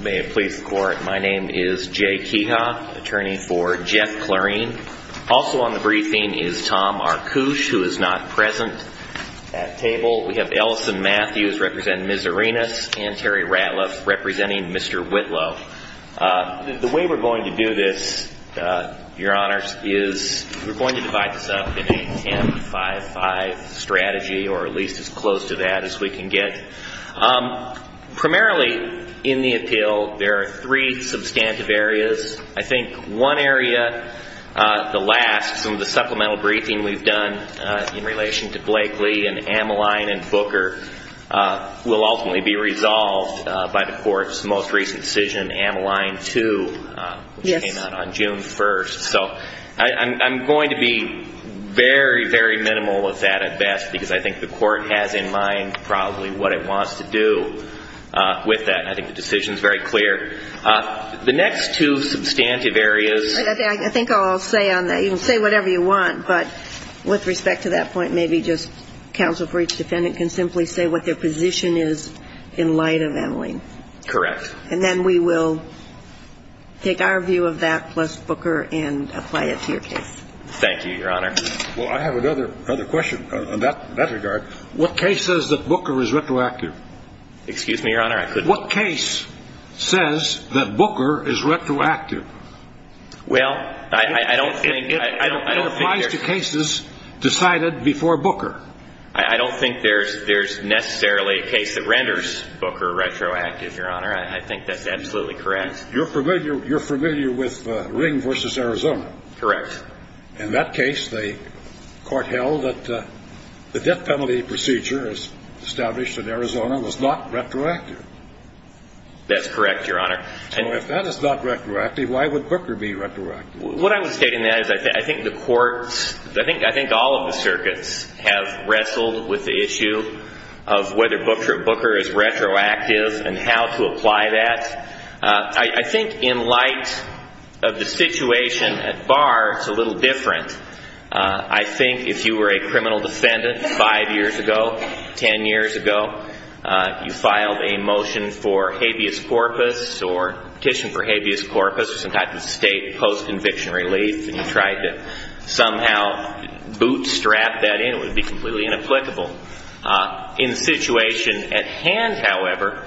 May it please the court, my name is Jay Keha, attorney for Jeff Clarine. Also on the briefing is Tom Arkush, who is not present at table. We have Ellison Matthews, representing Ms. Arenas, and Terry Ratliff, representing Mr. Whitlow. The way we're going to do this, your honors, is we're going to divide this up in a 10-5-5 strategy, or at least as close to that as we can get. Primarily, in the appeal, there are three substantive areas. I think one area, the last, some of the supplemental briefing we've done in relation to Blakely and Amaline and Booker will ultimately be resolved by the court's most recent decision, Amaline 2, which came out on June 1st. So I'm going to be very, very minimal with that at best, because I think the court has in mind probably what it wants to do with that. I think the decision is very clear. The next two substantive areas... I think I'll say on that, you can say whatever you want, but with respect to that point, maybe just counsel for each defendant can simply say what their position is in light of Amaline. Correct. And then we will take our view of that plus Booker and apply it to your case. Thank you, your honor. Well, I have another question in that regard. What case says that Booker is retroactive? Excuse me, your honor, I couldn't... What case says that Booker is retroactive? Well, I don't think... It applies to cases decided before Booker. I don't think there's necessarily a case that renders Booker retroactive, your honor. I think that's absolutely correct. You're familiar with Ring v. Arizona? Correct. In that case, the court held that the death penalty procedure established in Arizona was not retroactive. That's correct, your honor. So if that is not retroactive, why would Booker be retroactive? What I would state in that is I think the courts, I think all of the circuits, have wrestled with the issue of whether Booker is retroactive and how to apply that. I think in light of the situation at bar, it's a little different. I think if you were a criminal defendant five years ago, ten years ago, you filed a motion for habeas corpus or petition for habeas corpus or some type of state post-conviction relief, and you tried to somehow bootstrap that in, it would be completely inapplicable. In the situation at hand, however,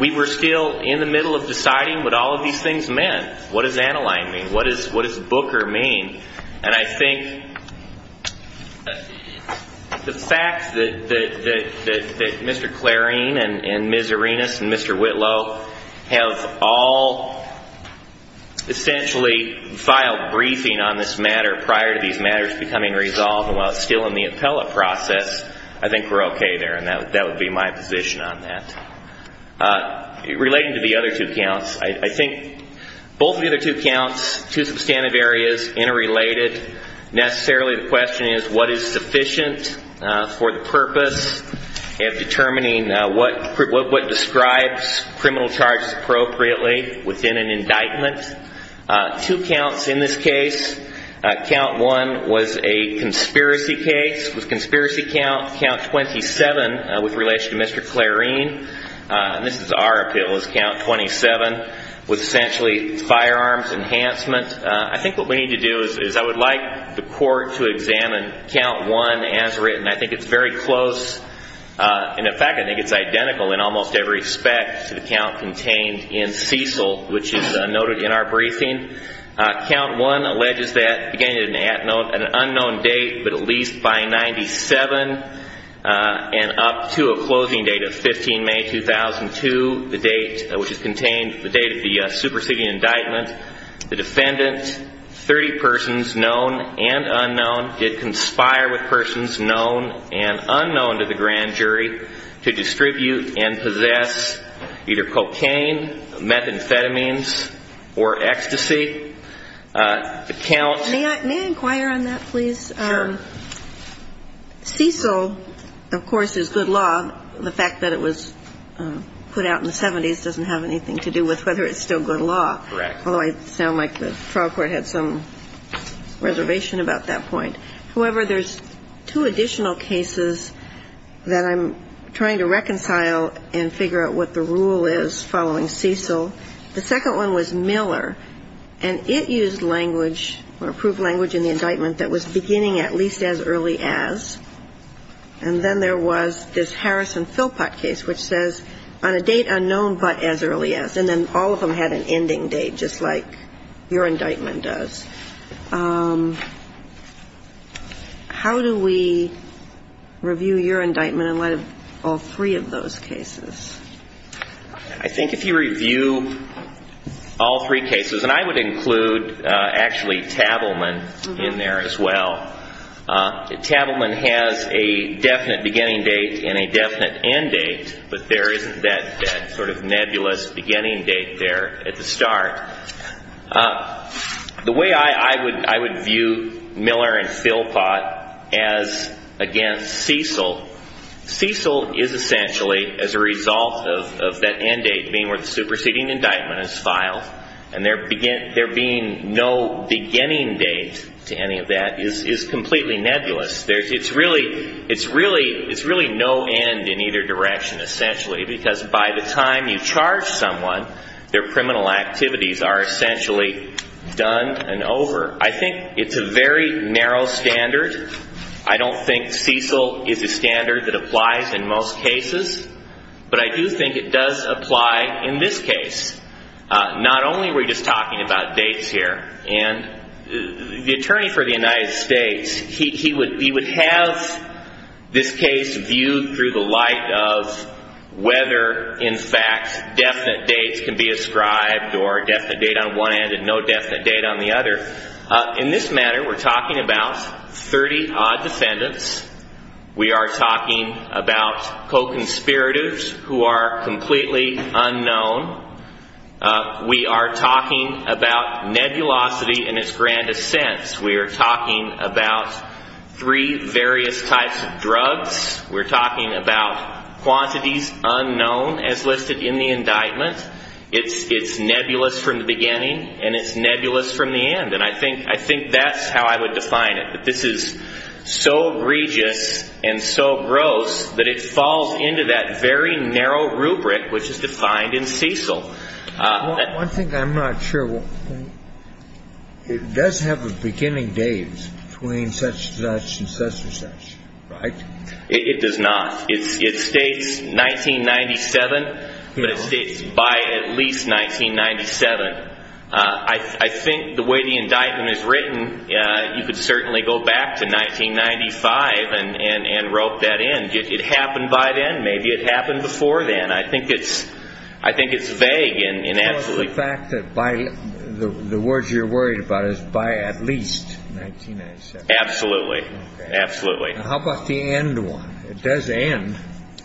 we were still in the middle of deciding what all of these things meant. What does Aniline mean? What does Booker mean? And I think the fact that Mr. Clarin and Ms. Arenas and Mr. Whitlow have all essentially filed briefing on this matter prior to these matters becoming resolved, and while it's still in the appellate process, I think we're okay there, and that would be my position on that. Relating to the other two counts, I think both of the other two counts, two substantive areas interrelated, necessarily the question is what is sufficient for the purpose of determining what describes criminal charges appropriately within an indictment. Two counts in this case, count one was a conspiracy case. With conspiracy count, count 27 with relation to Mr. Clarin, and this is our appeal, is count 27 with essentially firearms enhancement. I think what we need to do is I would like the court to examine count one as written. I think it's very close. In fact, I think it's identical in almost every respect to the count contained in Cecil, which is noted in our briefing. Count one alleges that, again, an unknown date, but at least by 97 and up to a closing date of 15 May 2002, the date which is contained, the date of the superseding indictment, the defendant, 30 persons, known and unknown, did conspire with persons known and unknown to the grand jury to distribute and possess either cocaine, methamphetamines, or ecstasy. The count. May I inquire on that, please? Sure. Cecil, of course, is good law. The fact that it was put out in the 70s doesn't have anything to do with whether it's still good law. Correct. Although I sound like the trial court had some reservation about that point. However, there's two additional cases that I'm trying to reconcile and figure out what the rule is following Cecil. The second one was Miller, and it used language or approved language in the indictment that was beginning at least as early as. And then there was this Harrison-Philpott case, which says on a date unknown but as early as. And then all of them had an ending date, just like your indictment does. How do we review your indictment in light of all three of those cases? I think if you review all three cases, and I would include actually Tavelman in there as well. Tavelman has a definite beginning date and a definite end date, but there isn't that sort of nebulous beginning date there at the start. The way I would view Miller and Philpott as against Cecil, Cecil is essentially as a result of that end date being where the superseding indictment is filed. And there being no beginning date to any of that is completely nebulous. It's really no end in either direction essentially, because by the time you charge someone, their criminal activities are essentially done and over. I think it's a very narrow standard. I don't think Cecil is a standard that applies in most cases, but I do think it does apply in this case. Not only are we just talking about dates here, and the attorney for the United States, he would have this case viewed through the light of whether in fact definite dates can be ascribed or a definite date on one end and no definite date on the other. In this matter, we're talking about 30-odd defendants. We are talking about co-conspirators who are completely unknown. We are talking about nebulosity in its grandest sense. We are talking about three various types of drugs. We're talking about quantities unknown as listed in the indictment. It's nebulous from the beginning and it's nebulous from the end, and I think that's how I would define it. This is so egregious and so gross that it falls into that very narrow rubric which is defined in Cecil. One thing I'm not sure, it does have a beginning date between such and such and such and such, right? It does not. It states 1997, but it states by at least 1997. I think the way the indictment is written, you could certainly go back to 1995 and rope that in. Did it happen by then? Maybe it happened before then. I think it's vague. The fact that by the words you're worried about is by at least 1997. Absolutely. Absolutely. How about the end one? It does end.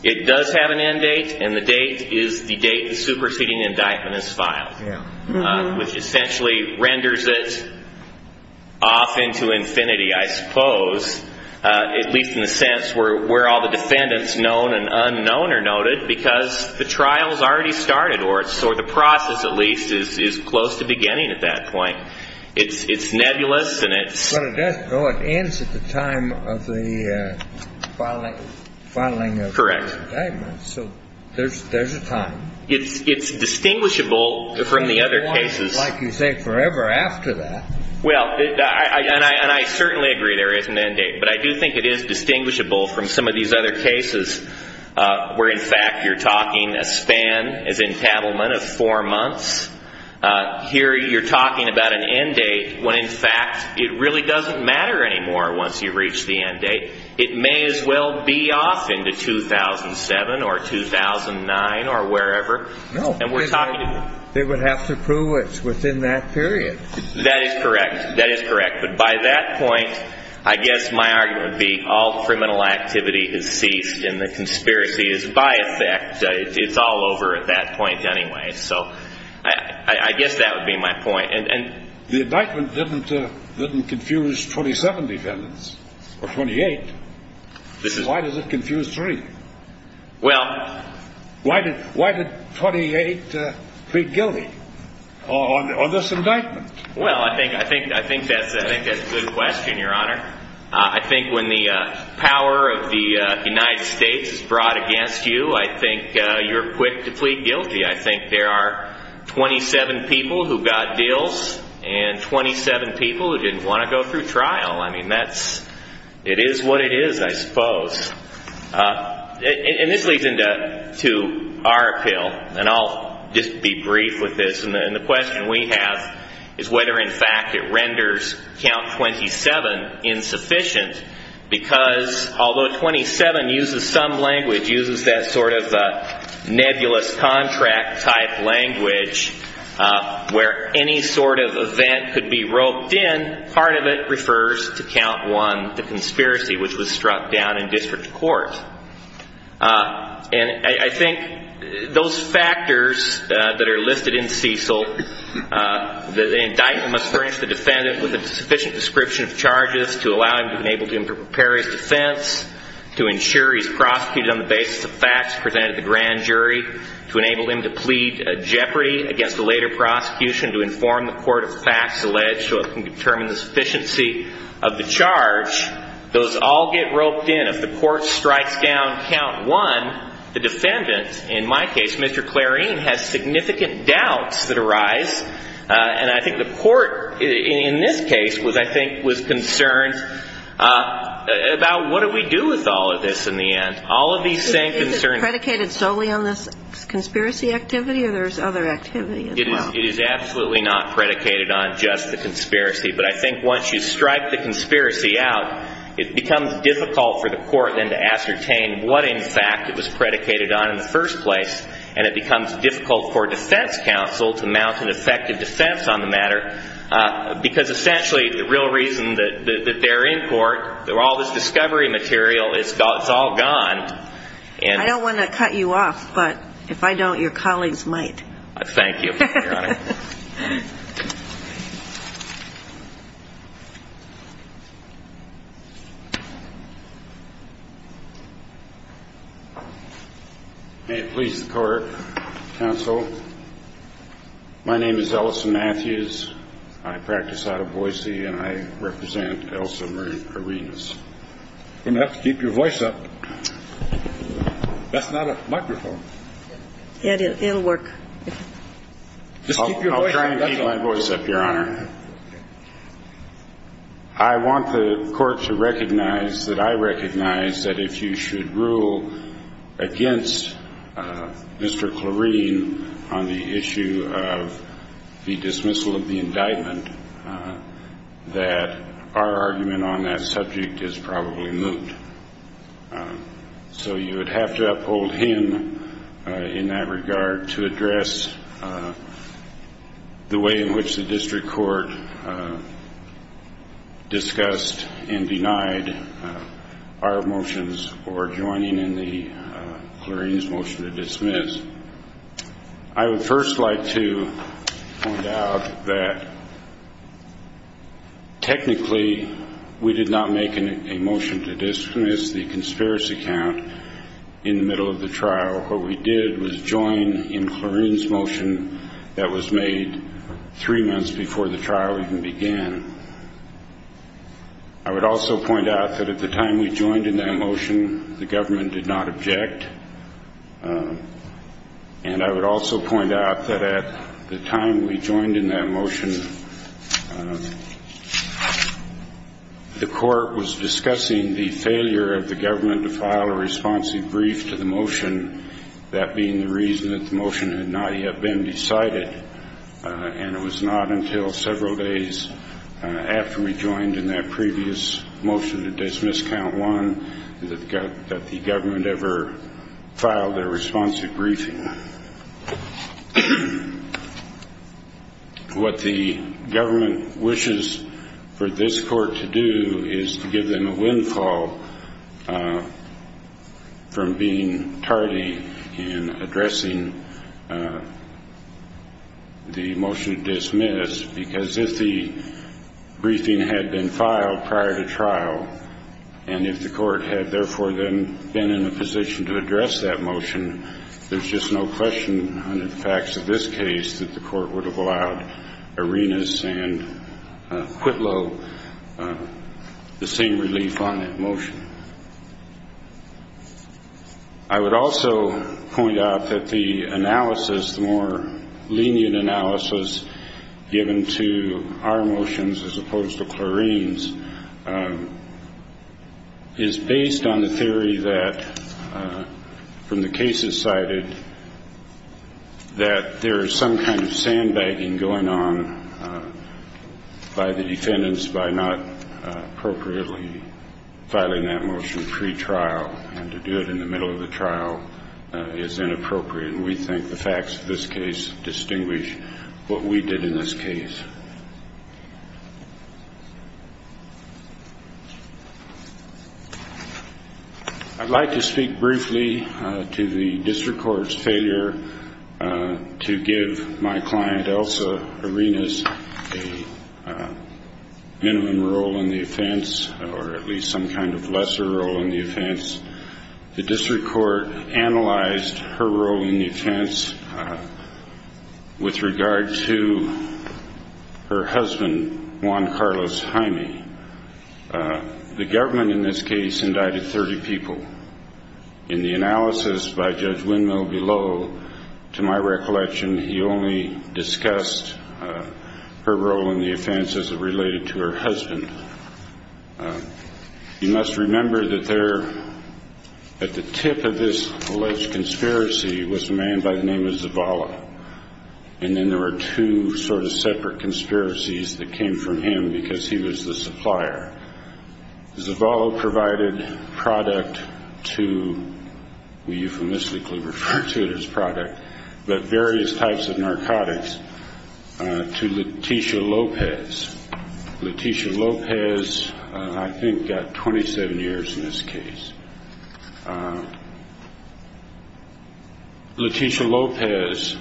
It does have an end date, and the date is the date the superseding indictment is filed, which essentially renders it off into infinity, I suppose, at least in the sense where all the defendants, known and unknown, are noted, because the trial has already started or the process, at least, is close to beginning at that point. It's nebulous and it's... But it does go, it ends at the time of the filing of the indictment. Correct. So there's a time. It's distinguishable from the other cases. Like you say, forever after that. Well, and I certainly agree there is an end date, but I do think it is distinguishable from some of these other cases where, in fact, you're talking a span, as entanglement, of four months. Here you're talking about an end date when, in fact, it really doesn't matter anymore once you reach the end date. It may as well be off into 2007 or 2009 or wherever. No. And we're talking... They would have to prove it's within that period. That is correct. That is correct. But by that point, I guess my argument would be all criminal activity is ceased and the conspiracy is by effect. It's all over at that point anyway. So I guess that would be my point. The indictment didn't confuse 27 defendants or 28. Why does it confuse three? Well... Why did 48 plead guilty on this indictment? Well, I think that's a good question, Your Honor. I think when the power of the United States is brought against you, I think you're quick to plead guilty. I think there are 27 people who got deals and 27 people who didn't want to go through trial. I mean, it is what it is, I suppose. And this leads into our appeal, and I'll just be brief with this. And the question we have is whether, in fact, it renders Count 27 insufficient because although 27 uses some language, uses that sort of nebulous contract-type language where any sort of event could be roped in, part of it refers to Count 1, the conspiracy, which was struck down in district court. And I think those factors that are listed in Cecil, the indictment must furnish the defendant with a sufficient description of charges to allow him to enable him to prepare his defense, to ensure he's prosecuted on the basis of facts presented at the grand jury, to enable him to plead jeopardy against the later prosecution, to inform the court of facts alleged so it can determine the sufficiency of the charge, those all get roped in. If the court strikes down Count 1, the defendant, in my case, Mr. Clarine, has significant doubts that arise. And I think the court in this case was, I think, was concerned about what do we do with all of this in the end. All of these same concerns. Is it predicated solely on this conspiracy activity, or there's other activity as well? It is absolutely not predicated on just the conspiracy. But I think once you strike the conspiracy out, it becomes difficult for the court then to ascertain what, in fact, it was predicated on in the first place. And it becomes difficult for defense counsel to mount an effective defense on the matter, because essentially the real reason that they're in court, all this discovery material, it's all gone. I don't want to cut you off, but if I don't, your colleagues might. Thank you, Your Honor. May it please the court, counsel. My name is Ellison Matthews. I practice out of Boise, and I represent Elsa Marie Arenas. You're going to have to keep your voice up. That's not a microphone. It'll work. Just keep your voice up. I'll try and keep my voice up, Your Honor. I want the court to recognize that I recognize that if you should rule against Mr. Clarine on the issue of the dismissal of the indictment, that our argument on that subject is probably moot. So you would have to uphold him in that regard to address the way in which the district court discussed and denied our motions for joining in the Clarine's motion to dismiss. I would first like to point out that technically we did not make a motion to dismiss the conspiracy count in the middle of the trial. What we did was join in Clarine's motion that was made three months before the trial even began. I would also point out that at the time we joined in that motion, the government did not object. And I would also point out that at the time we joined in that motion, the court was discussing the failure of the government to file a responsive brief to the motion, that being the reason that the motion had not yet been decided, and it was not until several days after we joined in that previous motion to dismiss count one that the government ever filed a responsive briefing. What the government wishes for this court to do is to give them a windfall from being tardy in addressing the motion to dismiss, because if the briefing had been filed prior to trial, and if the court had therefore been in a position to address that motion, there's just no question under the facts of this case that the court would have allowed Arenas and Quitlow the same relief on that motion. I would also point out that the analysis, the more lenient analysis given to our motions as opposed to Clarine's, is based on the theory that, from the cases cited, that there is some kind of sandbagging going on by the defendants by not appropriately filing that motion pre-trial, and to do it in the middle of the trial is inappropriate, and we think the facts of this case distinguish what we did in this case. I'd like to speak briefly to the district court's failure to give my client, Elsa Arenas, a minimum role in the offense, or at least some kind of lesser role in the offense. The district court analyzed her role in the offense with regard to her husband, Juan Carlos Jaime. The government in this case indicted 30 people. In the analysis by Judge Windmill below, to my recollection, he only discussed her role in the offense as it related to her husband. You must remember that there, at the tip of this alleged conspiracy, was a man by the name of Zavala, and then there were two sort of separate conspiracies that came from him because he was the supplier. Zavala provided product to, we euphemistically refer to it as product, but various types of narcotics to Leticia Lopez. Leticia Lopez, I think, got 27 years in this case. Leticia Lopez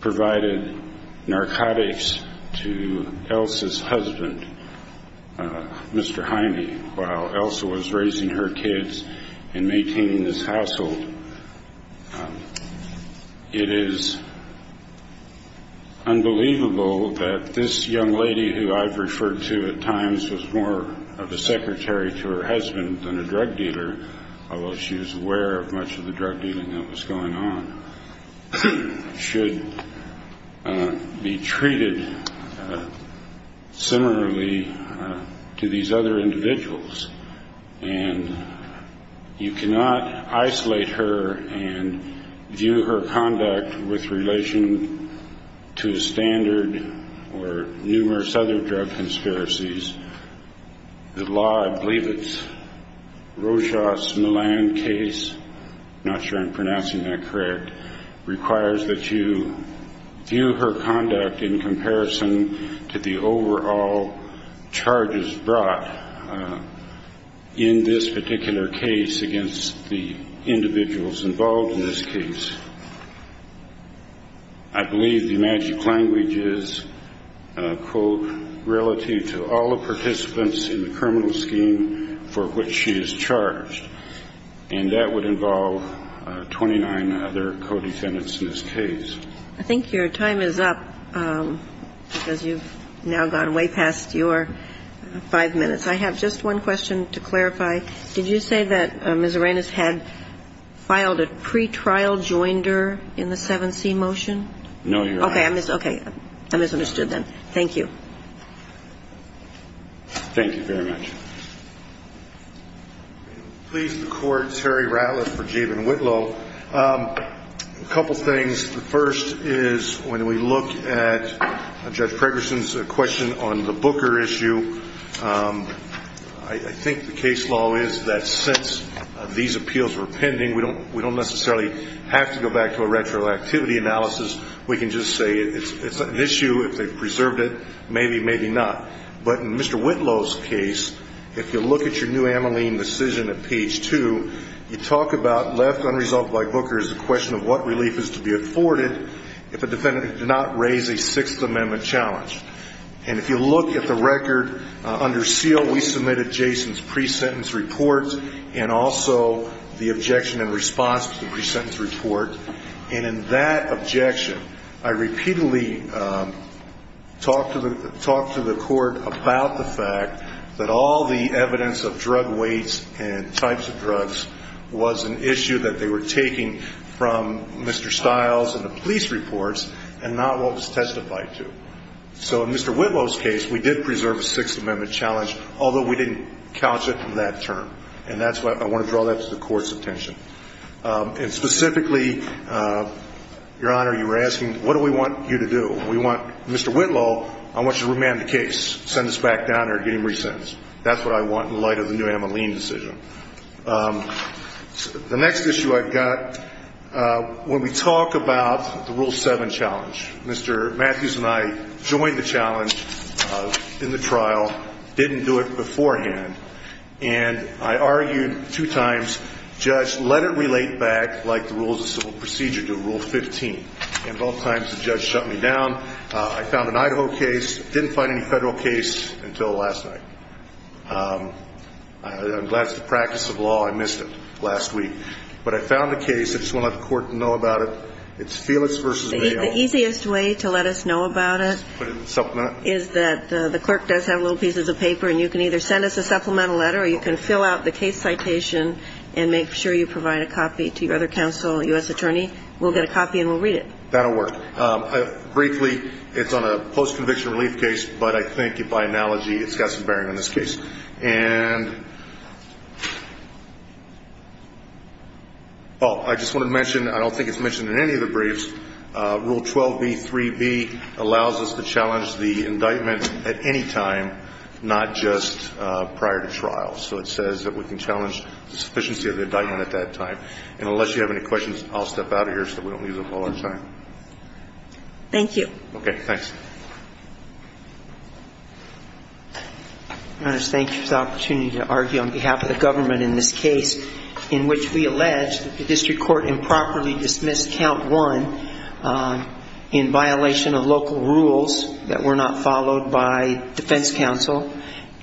provided narcotics to Elsa's husband, Mr. Jaime, while Elsa was raising her kids and maintaining this household. It is unbelievable that this young woman, a young lady who I've referred to at times as more of a secretary to her husband than a drug dealer, although she was aware of much of the drug dealing that was going on, should be treated similarly to these other individuals. And you cannot isolate her and view her conduct with relation to a standard or numerous other drug conspiracies. The law, I believe it's Rochas Millan case, not sure I'm pronouncing that correct, requires that you view her conduct in comparison to the overall charges brought in this particular case against the individuals involved in this case. I believe the magic language is, quote, relative to all the participants in the criminal scheme for which she is charged. And that would involve 29 other co-defendants in this case. I think your time is up, because you've now gone way past your five minutes. I have just one question to clarify. Did you say that Ms. Arenas had filed a pretrial joinder in the 7C motion? No, Your Honor. Okay. I misunderstood then. Thank you. Thank you very much. If it pleases the Court, Terry Ratliff for Jabin-Whitlow. A couple things. The first is when we look at Judge Pregerson's question on the Booker issue, I think the case law is that since these appeals were pending, we don't necessarily have to go back to a retroactivity analysis. We can just say it's an issue. If they've preserved it, maybe, maybe not. But in Mr. Whitlow's case, if you look at your new Ameline decision at page two, you talk about left unresolved by Booker is a question of what relief is to be afforded if a defendant did not raise a Sixth Amendment challenge. And if you look at the record under seal, we submitted Jason's pre-sentence report and also the objection in response to the pre-sentence report. And in that objection, I repeatedly talked to the Court about the fact that all the evidence of drug weights and types of drugs was an issue that they were taking from Mr. Stiles and the police reports and not what was testified to. So in Mr. Whitlow's case, we did preserve a Sixth Amendment challenge, although we didn't couch it in that term. And that's why I want to draw that to the Court's attention. And specifically, Your Honor, you were asking, what do we want you to do? We want Mr. Whitlow, I want you to remand the case, send us back down there and get him re-sentenced. That's what I want in light of the new Ameline decision. The next issue I've got, when we talk about the Rule 7 challenge, Mr. Matthews and I joined the challenge in the trial, didn't do it beforehand. And I argued two times, judge, let it relate back like the rules of civil procedure to Rule 15. And both times, the judge shut me down. I found an Idaho case, didn't find any Federal case until last night. I'm glad it's the practice of law. I missed it last week. But I found a case. I just want to let the Court know about it. It's Felix v. Mayo. The easiest way to let us know about it is that the clerk does have little pieces of paper, and you can either send us a supplemental letter or you can fill out the case citation and make sure you provide a copy to your other counsel, U.S. attorney. We'll get a copy and we'll read it. That will work. Briefly, it's on a post-conviction relief case, but I think by analogy, it's got some bearing on this case. And I just want to mention, I don't think it's mentioned in any of the briefs, Rule 12b3b allows us to challenge the indictment at any time, not just prior to trial. So it says that we can challenge the sufficiency of the indictment at that time. And unless you have any questions, I'll step out of here so we don't lose up all our time. Thank you. Okay. Thanks. Your Honor, thank you for the opportunity to argue on behalf of the government in this case in which we allege that the district court improperly dismissed count one in violation of local rules that were not followed by defense counsel,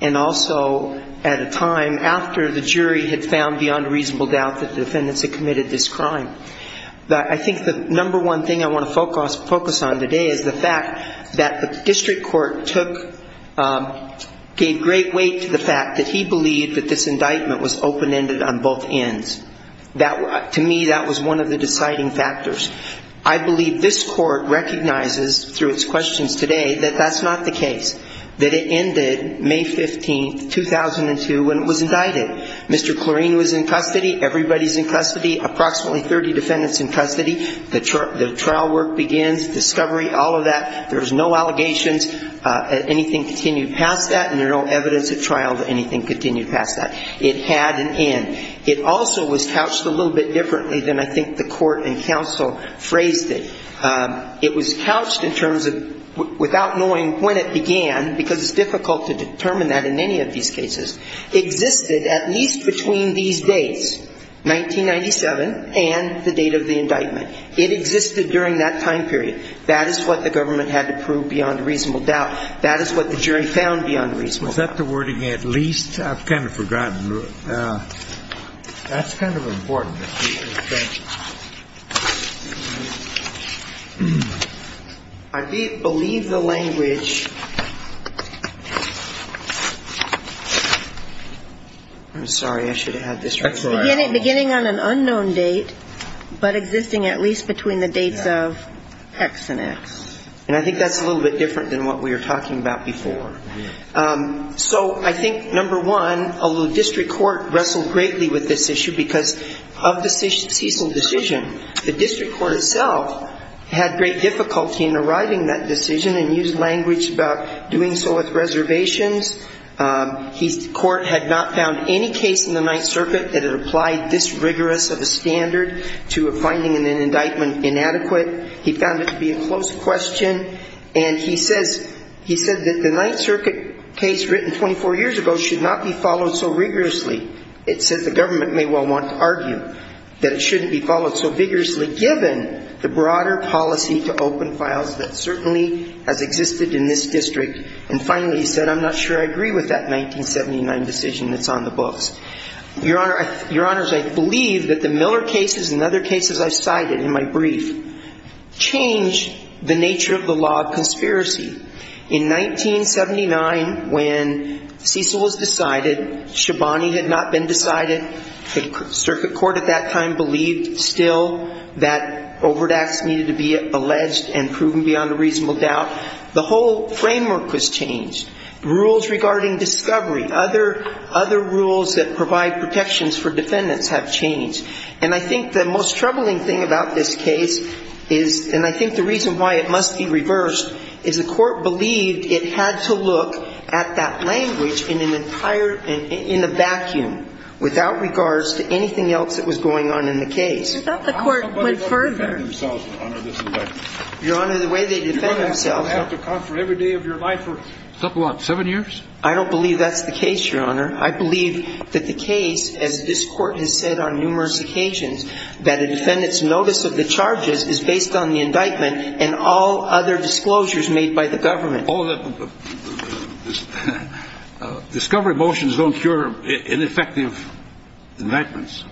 and also at a time after the jury had found beyond reasonable doubt that the defendants had committed this crime. I think the number one thing I want to focus on today is the fact that the district court took, gave great weight to the fact that he believed that this indictment was open-ended on both ends. To me, that was one of the deciding factors. I believe this court recognizes through its questions today that that's not the case, that it ended May 15, 2002, when it was indicted. Mr. Clorine was in custody, everybody's in custody, approximately 30 defendants in custody. The trial work begins, discovery, all of that. There's no allegations, anything continued past that, and there's no evidence at trial that anything continued past that. It had an end. It also was couched a little bit differently than I think the court and counsel phrased it. It was couched in terms of, without knowing when it began, because it's difficult to determine that in any of these cases, existed at least between these dates, 1997 and the date of the indictment. It existed during that time period. That is what the government had to prove beyond reasonable doubt. That is what the jury found beyond reasonable doubt. Was that the wording, at least? I've kind of forgotten. That's kind of important. I believe the language I'm sorry, I should have had this right. Beginning on an unknown date, but existing at least between the dates of X and X. And I think that's a little bit different than what we were talking about before. So I think, number one, although district court wrestled greatly with this issue, because of the seasonal decision, the district court itself had great difficulty in arriving that decision and used language about doing so with reservations. The court had not found any case in the Ninth Circuit that it applied this rigorous of a standard to a finding in an indictment inadequate. He found it to be a close question. And he said that the Ninth Circuit case written 24 years ago should not be followed so rigorously. It says the government may well want to argue that it shouldn't be followed so vigorously, given the broader policy to open files that certainly has existed in this district. And finally, he said, I'm not sure I agree with that 1979 decision that's on the books. Your Honor, your Honors, I believe that the Miller cases and other cases I've cited in my brief change the nature of the law of conspiracy. In 1979, when Cecil was decided, Shabani had not been decided, the circuit court at that time believed still that Overdax needed to be alleged and proven beyond a reasonable doubt. The whole framework was changed. Rules regarding discovery, other rules that provide protections for defendants have changed. And I think the most troubling thing about this case is, and I think the reason why it must be reversed, is the court believed it had to look at that language in an entire, in a vacuum, without regards to anything else that was going on in the case. I thought the court went further. Your Honor, the way they defend themselves. I don't believe that's the case, Your Honor. I believe that the case, as this court has said on numerous occasions, that a defendant's notice of the charges is based on the indictment and all other disclosures made by the government. Discovery motions don't cure ineffective indictments.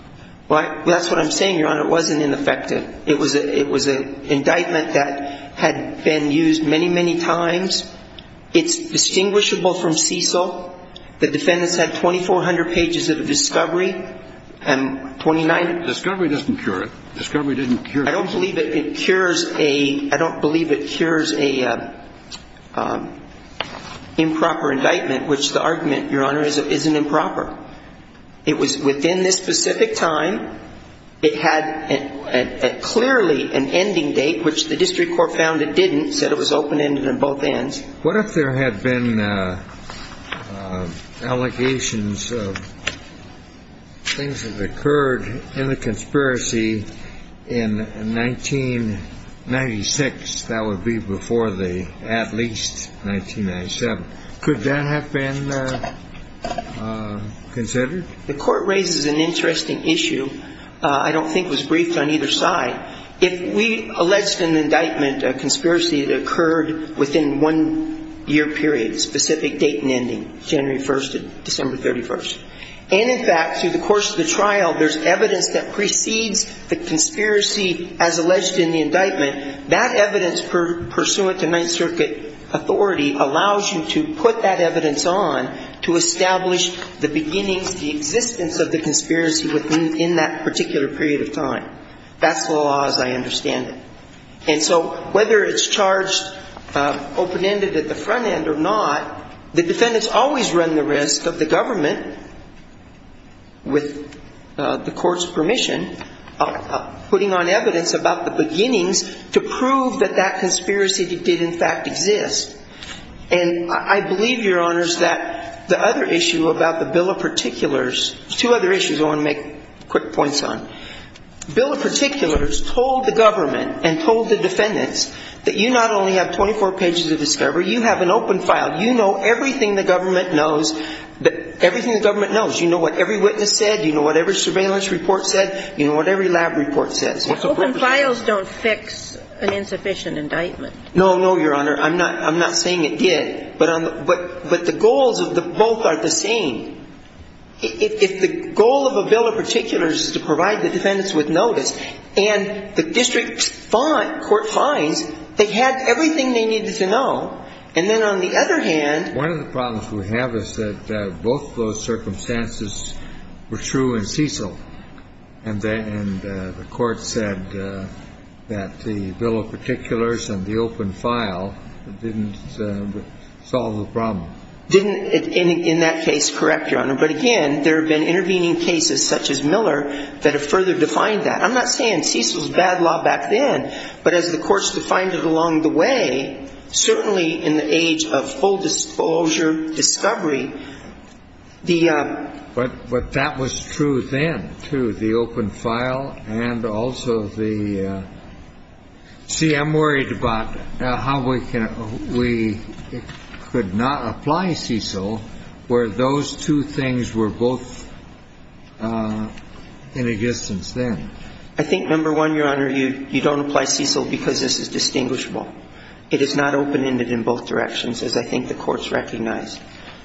That's what I'm saying, Your Honor. It wasn't ineffective. It was an indictment that had been used many, many times. It's distinguishable from Cecil. The defendants had 2,400 pages of discovery and 29 of them. Discovery doesn't cure it. Discovery didn't cure it. I don't believe it cures a improper indictment, which the argument, Your Honor, isn't improper. It was within this specific time. It had clearly an ending date, which the district court found it didn't. It said it was open-ended on both ends. What if there had been allegations of things that occurred in the conspiracy in 1996? That would be before the at least 1997. Could that have been considered? The court raises an interesting issue. I don't think it was briefed on either side. If we alleged an indictment, a conspiracy that occurred within one year period, a specific date and ending, January 1st to December 31st, and, in fact, through the course of the trial there's evidence that precedes the conspiracy as alleged in the indictment, that evidence, pursuant to Ninth Circuit authority, allows you to put that evidence on to establish the beginnings, the existence of the conspiracy within that particular period of time. That's the law as I understand it. And so whether it's charged open-ended at the front end or not, the defendants always run the risk of the government, with the court's permission, putting on evidence about the beginnings to prove that that conspiracy did in fact exist. And I believe, Your Honors, that the other issue about the Bill of Particulars – two other issues I want to make quick points on. Bill of Particulars told the government and told the defendants that you not only have 24 pages of discovery, you have an open file. You know everything the government knows. You know what every witness said. You know what every surveillance report said. You know what every lab report says. Open files don't fix an insufficient indictment. No, no, Your Honor. I'm not saying it did. But the goals of both are the same. If the goal of a Bill of Particulars is to provide the defendants with notice, and the district court finds they had everything they needed to know, and then on the other hand – One of the problems we have is that both of those circumstances were true in Cecil. And the court said that the Bill of Particulars and the open file didn't solve the problem. Didn't, in that case, correct, Your Honor. But again, there have been intervening cases such as Miller that have further defined that. I'm not saying Cecil's bad law back then, but as the courts defined it along the way, certainly in the age of full disclosure discovery, the – But that was true then, too, the open file and also the – see, I'm worried about how we can – we could not apply Cecil where those two things were both in existence then. I think, number one, Your Honor, you don't apply Cecil because this is distinguishable. It is not open-ended in both directions, as I think the courts recognized.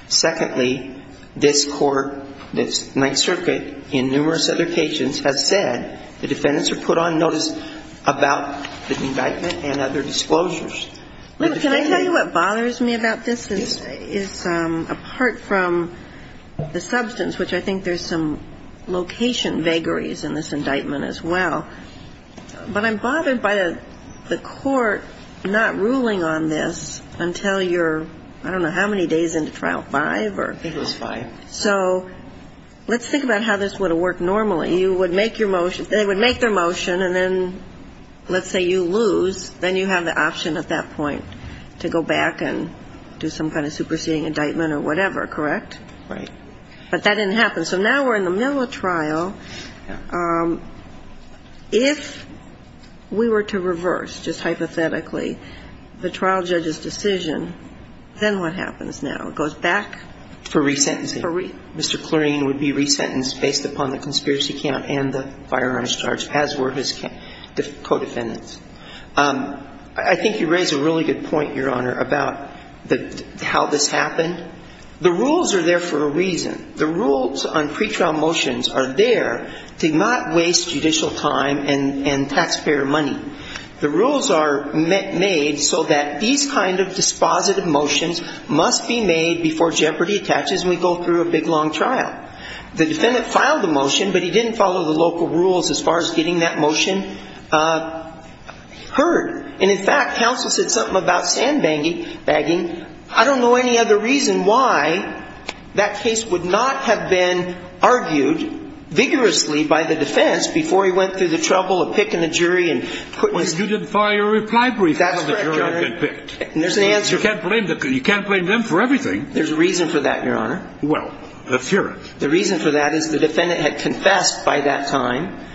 Secondly, this Court, this Ninth Circuit, in numerous other cases, has said the defendants are put on notice about the indictment and other disclosures. Can I tell you what bothers me about this is, apart from the substance, which I think there's some location vagaries in this indictment as well, but I'm bothered by the court not ruling on this until you're, I don't know, how many days into Trial 5 or – It was 5. So let's think about how this would have worked normally. You would make your motion – they would make their motion, and then let's say you lose. Then you have the option at that point to go back and do some kind of superseding indictment or whatever, correct? Right. But that didn't happen. So now we're in the middle of trial. If we were to reverse, just hypothetically, the trial judge's decision, then what happens now? It goes back – For resentencing. For – Mr. Clearing would be resentenced based upon the conspiracy count and the firearms charge, as were his co-defendants. I think you raise a really good point, Your Honor, about how this happened. The rules are there for a reason. The rules on pretrial motions are there to not waste judicial time and taxpayer money. The rules are made so that these kind of dispositive motions must be made before jeopardy attaches and we go through a big, long trial. The defendant filed the motion, but he didn't follow the local rules as far as getting that motion heard. And, in fact, counsel said something about sandbagging. I don't know any other reason why that case would not have been argued vigorously by the defense before he went through the trouble of picking a jury and – Well, you didn't file your reply brief before the jury had been picked. That's right, Your Honor. You can't blame them for everything. There's a reason for that, Your Honor. Well, let's hear it. The reason for that is the defendant had confessed by that time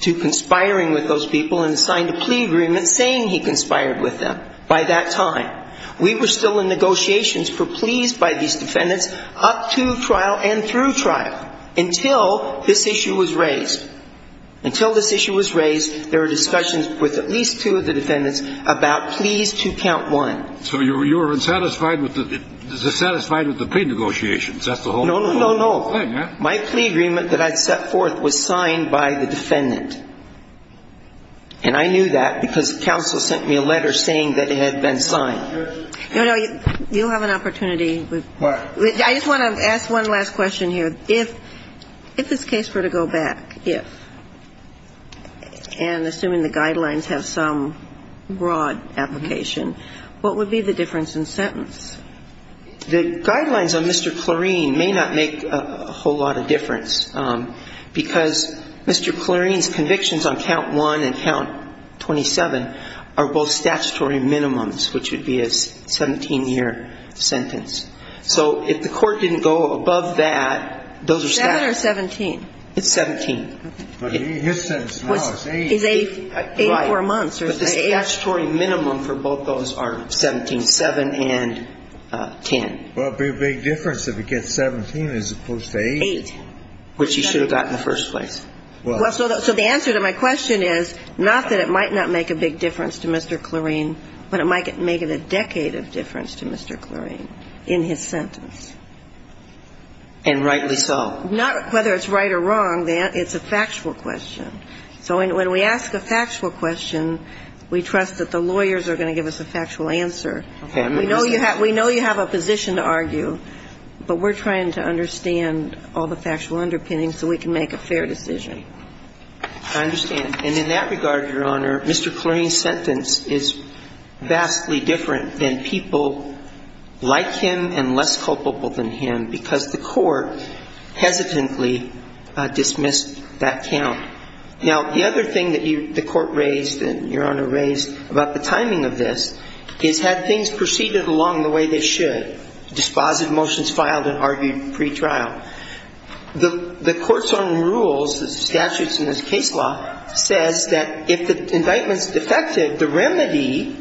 to conspiring with those people and signed a plea agreement saying he conspired with them by that time. We were still in negotiations for pleas by these defendants up to trial and through trial until this issue was raised. Until this issue was raised, there were discussions with at least two of the defendants about pleas to count one. So you were dissatisfied with the pre-negotiations? No, no, no, no. My plea agreement that I'd set forth was signed by the defendant. And I knew that because counsel sent me a letter saying that it had been signed. No, no. You have an opportunity. What? I just want to ask one last question here. If this case were to go back, if, and assuming the guidelines have some broad application, what would be the difference in sentence? The guidelines on Mr. Clarine may not make a whole lot of difference because Mr. Clarine's convictions on count one and count 27 are both statutory minimums, which would be a 17-year sentence. So if the court didn't go above that, those are statutory. Seven or 17? It's 17. But his sentence now is eight. Is eight for a month. But the statutory minimum for both those are 17, seven and ten. Well, it would be a big difference if it gets 17 as opposed to eight. Eight, which he should have gotten in the first place. Well, so the answer to my question is not that it might not make a big difference to Mr. Clarine, but it might make it a decade of difference to Mr. Clarine in his sentence. And rightly so. Not whether it's right or wrong. It's a factual question. So when we ask a factual question, we trust that the lawyers are going to give us a factual answer. We know you have a position to argue, but we're trying to understand all the factual underpinnings so we can make a fair decision. I understand. And in that regard, Your Honor, Mr. Clarine's sentence is vastly different than people like him and less culpable than him because the court hesitantly dismissed that count. Now, the other thing that the court raised and Your Honor raised about the timing of this is had things proceeded along the way they should, dispositive motions filed and argued pretrial, the court's own rules, the statutes in this case law, says that if the indictment's defective, the remedy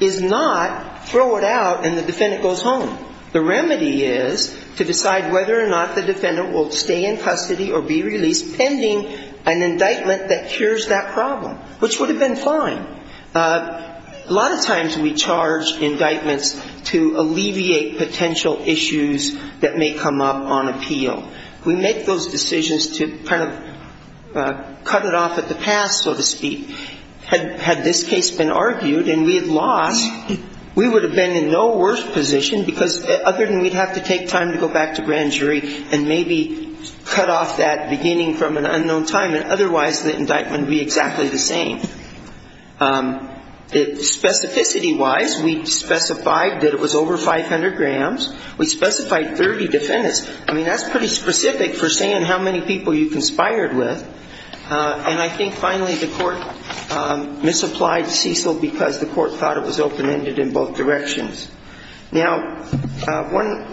is not throw it out and the defendant goes home. The remedy is to decide whether or not the defendant will stay in custody or be released pending an indictment that cures that problem, which would have been fine. A lot of times we charge indictments to alleviate potential issues that may come up on appeal. We make those decisions to kind of cut it off at the pass, so to speak. Had this case been argued and we had lost, we would have been in no worse position because other than we'd have to take time to go back to grand jury and maybe cut off that beginning from an unknown time, and otherwise the indictment would be exactly the same. Specificity-wise, we specified that it was over 500 grams. We specified 30 defendants. I mean, that's pretty specific for saying how many people you conspired with. And I think finally the court misapplied Cecil because the court thought it was open-ended in both directions. Now,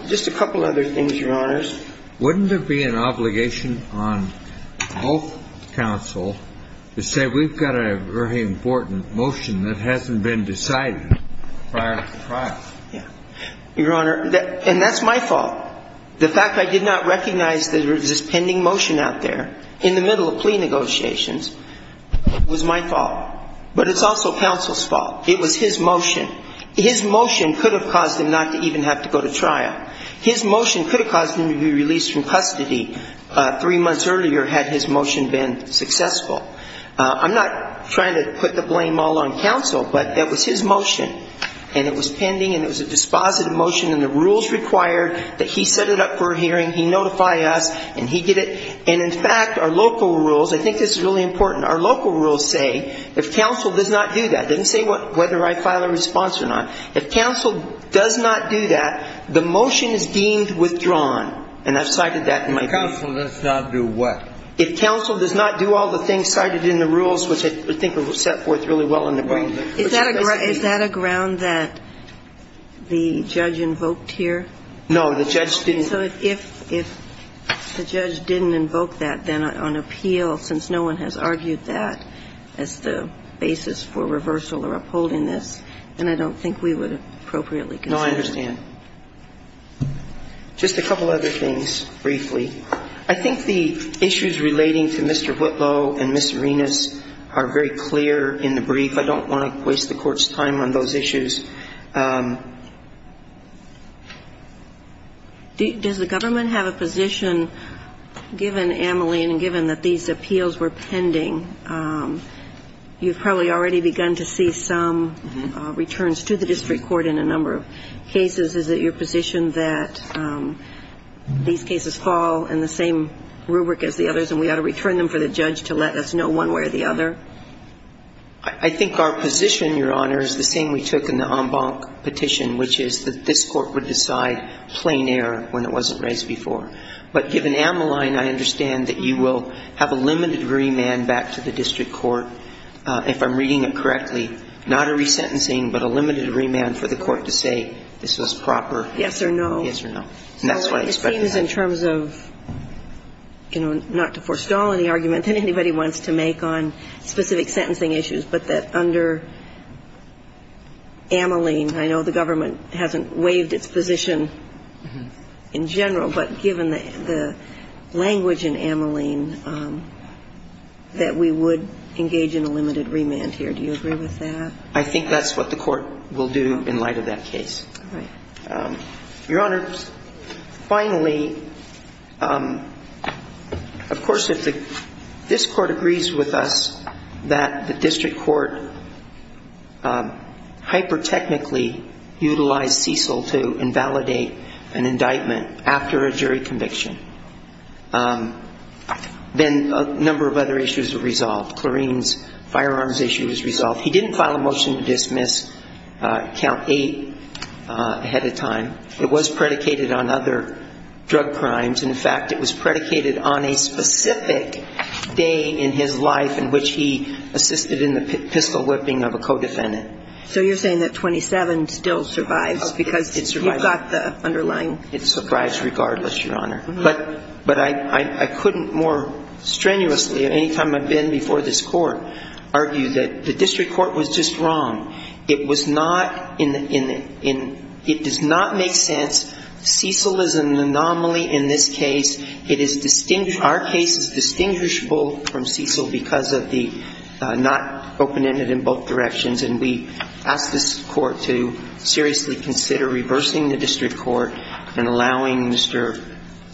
just a couple other things, Your Honors. Wouldn't it be an obligation on both counsel to say we've got a very important motion that hasn't been decided prior to trial? Yeah. Your Honor, and that's my fault. The fact I did not recognize there was this pending motion out there in the middle of plea negotiations was my fault. But it's also counsel's fault. It was his motion. His motion could have caused him not to even have to go to trial. His motion could have caused him to be released from custody three months earlier had his motion been successful. I'm not trying to put the blame all on counsel, but that was his motion. And it was pending, and it was a dispositive motion, and the rules required that he set it up for a hearing, he notify us, and he get it. And in fact, our local rules, I think this is really important, our local rules say if counsel does not do that, it doesn't say whether I file a response or not, if counsel does not do that, the motion is deemed withdrawn. And I've cited that in my brief. If counsel does not do what? If counsel does not do all the things cited in the rules, which I think are set forth really well in the brief. Is that a ground that the judge invoked here? No, the judge didn't. So if the judge didn't invoke that then on appeal, since no one has argued that as the basis for reversal or upholding this, then I don't think we would appropriately consider it. No, I understand. Just a couple other things briefly. I think the issues relating to Mr. Whitlow and Ms. Arenas are very clear in the brief. I don't want to waste the Court's time on those issues. Does the government have a position, given Ameline and given that these appeals were pending, you've probably already begun to see some returns to the district court in a number of cases. Is it your position that these cases fall in the same rubric as the others and we ought to return them for the judge to let us know one way or the other? I think our position, Your Honor, is the same we took in the en banc petition, which is that this Court would decide plein air when it wasn't raised before. But given Ameline, I understand that you will have a limited remand back to the district court, if I'm reading it correctly, not a resentencing, but a limited remand for the Court to say this was proper. Yes or no. Yes or no. And that's what I expected. It seems in terms of, you know, not to forestall any argument that anybody wants to make on specific sentencing issues, but that under Ameline, I know the government hasn't waived its position in general, but given the language in Ameline that we would engage in a limited remand here. Do you agree with that? I think that's what the Court will do in light of that case. All right. Your Honor, finally, of course, if this Court agrees with us that the district court hyper-technically utilized Cecil to invalidate an indictment after a jury conviction, then a number of other issues are resolved. Clarine's firearms issue is resolved. He didn't file a motion to dismiss Count 8 ahead of time. It was predicated on other drug crimes. In fact, it was predicated on a specific day in his life in which he assisted in the pistol whipping of a co-defendant. So you're saying that 27 still survives because you've got the underlying? It survives regardless, Your Honor. But I couldn't more strenuously, any time I've been before this Court, argue that the district court was just wrong. It was not in the ‑‑ it does not make sense. Cecil is an anomaly in this case. It is ‑‑ our case is distinguishable from Cecil because of the not open-ended in both directions, and we ask this Court to seriously consider reversing the district court and allowing Mr.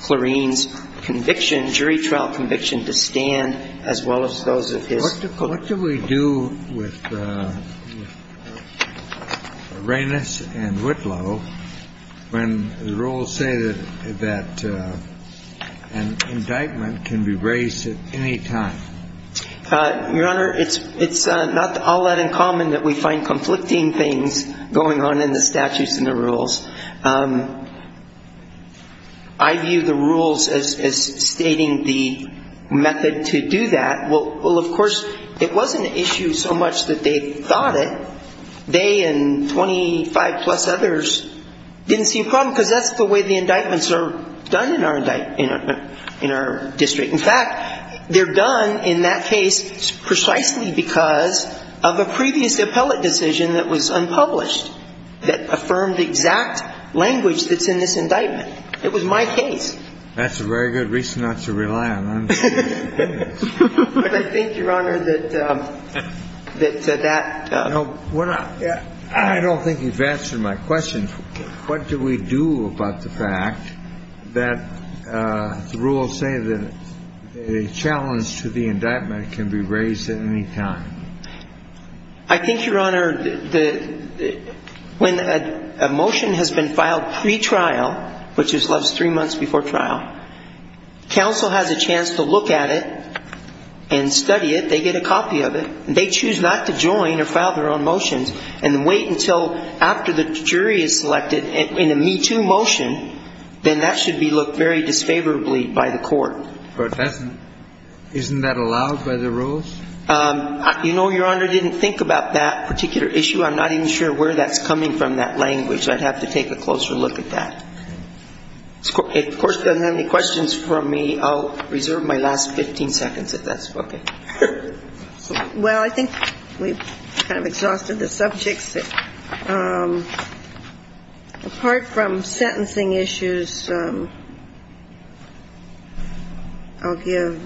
Clarine's conviction, jury trial conviction, to stand as well as those of his colleagues. What do we do with Reynos and Whitlow when the rules say that an indictment can be raised at any time? Your Honor, it's not all that uncommon that we find conflicting things going on in the statutes and the rules. I view the rules as stating the method to do that. Well, of course, it wasn't an issue so much that they thought it. They and 25‑plus others didn't see a problem because that's the way the indictments are done in our district. In fact, they're done in that case precisely because of a previous appellate decision that was unpublished that affirmed exact language that's in this indictment. It was my case. That's a very good reason not to rely on them. But I think, Your Honor, that that ‑‑ No, we're not ‑‑ I don't think you've answered my question. What do we do about the fact that the rules say that a challenge to the indictment can be raised at any time? I think, Your Honor, when a motion has been filed pretrial, which is three months before trial, counsel has a chance to look at it and study it. They get a copy of it. They choose not to join or file their own motions and wait until after the jury is selected in a me‑too motion, then that should be looked very disfavorably by the court. But isn't that allowed by the rules? You know, Your Honor, I didn't think about that particular issue. I'm not even sure where that's coming from, that language. I'd have to take a closer look at that. If the Court doesn't have any questions for me, I'll reserve my last 15 seconds if that's okay. Well, I think we've kind of exhausted the subjects. Apart from sentencing issues, I'll give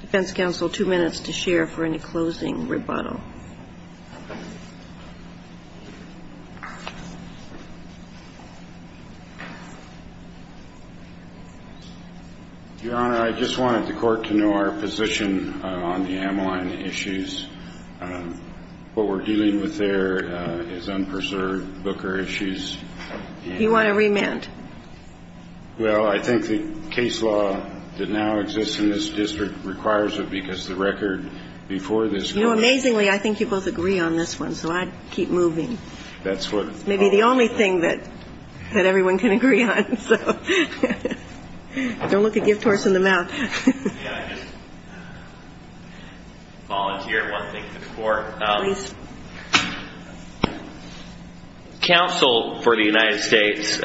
defense counsel two minutes to share for any closing rebuttal. Your Honor, I just wanted the Court to know our position on the Ameline issues. What we're dealing with there is unpreserved Booker issues. You want to remand? Well, I think the case law that now exists in this district requires it because the record before this court ‑‑ You know, amazingly, I think you both agree on that. I agree on this one, so I'd keep moving. It's maybe the only thing that everyone can agree on, so don't look a gift horse in the mouth. May I just volunteer one thing to the Court? Please. Counsel for the United States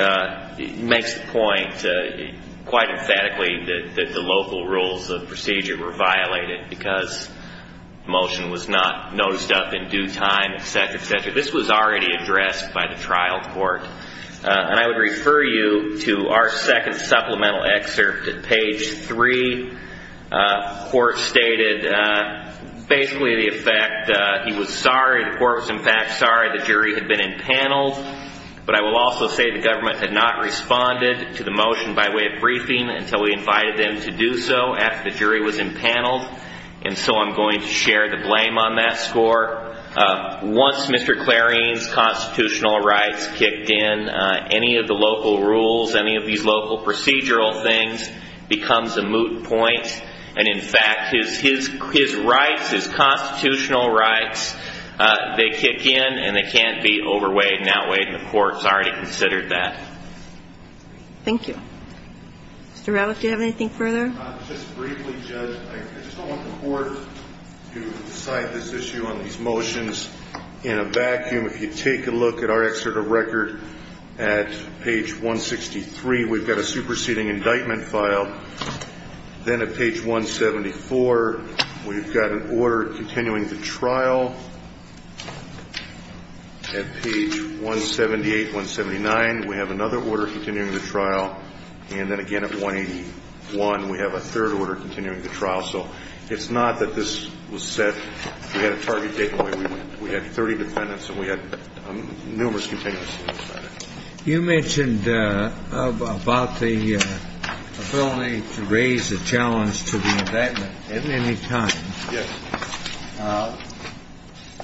makes the point quite emphatically that the local rules of procedure were violated because the motion was not nosed up in due time, et cetera, et cetera. This was already addressed by the trial court. And I would refer you to our second supplemental excerpt at page 3. The court stated basically the effect, he was sorry, the court was in fact sorry the jury had been empaneled, but I will also say the government had not responded to the motion by way of briefing until we invited them to do so after the jury was empaneled, and so I'm going to share the blame on that score. Once Mr. Clarion's constitutional rights kicked in, any of the local rules, any of these local procedural things becomes a moot point. And in fact, his rights, his constitutional rights, they kick in, and they can't be overweighed and outweighed, and the court's already considered that. Thank you. Mr. Ralliff, do you have anything further? Just briefly, Judge, I just don't want the court to decide this issue on these motions in a vacuum. If you take a look at our excerpt of record at page 163, we've got a superseding indictment file. Then at page 174, we've got an order continuing the trial. At page 178, 179, we have another order continuing the trial. And then again at 181, we have a third order continuing the trial. So it's not that this was set. We had a target date when we went. We had 30 defendants, and we had numerous continuances. You mentioned about the ability to raise a challenge to the indictment at any time. Yes.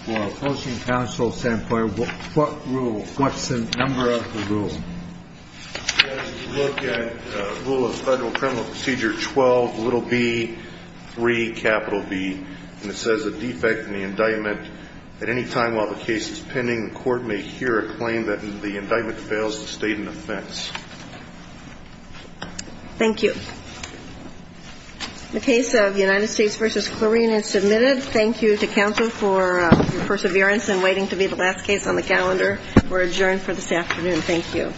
For opposing counsel, what rule? What's the number of the rule? If you look at Rule of Federal Criminal Procedure 12, little b, 3, capital B, and it says a defect in the indictment at any time while the case is pending, the court may hear a claim that the indictment fails to state an offense. Thank you. The case of United States v. Clarine is submitted. Thank you to counsel for perseverance in waiting to be the last case on the calendar. We're adjourned for this afternoon. Thank you.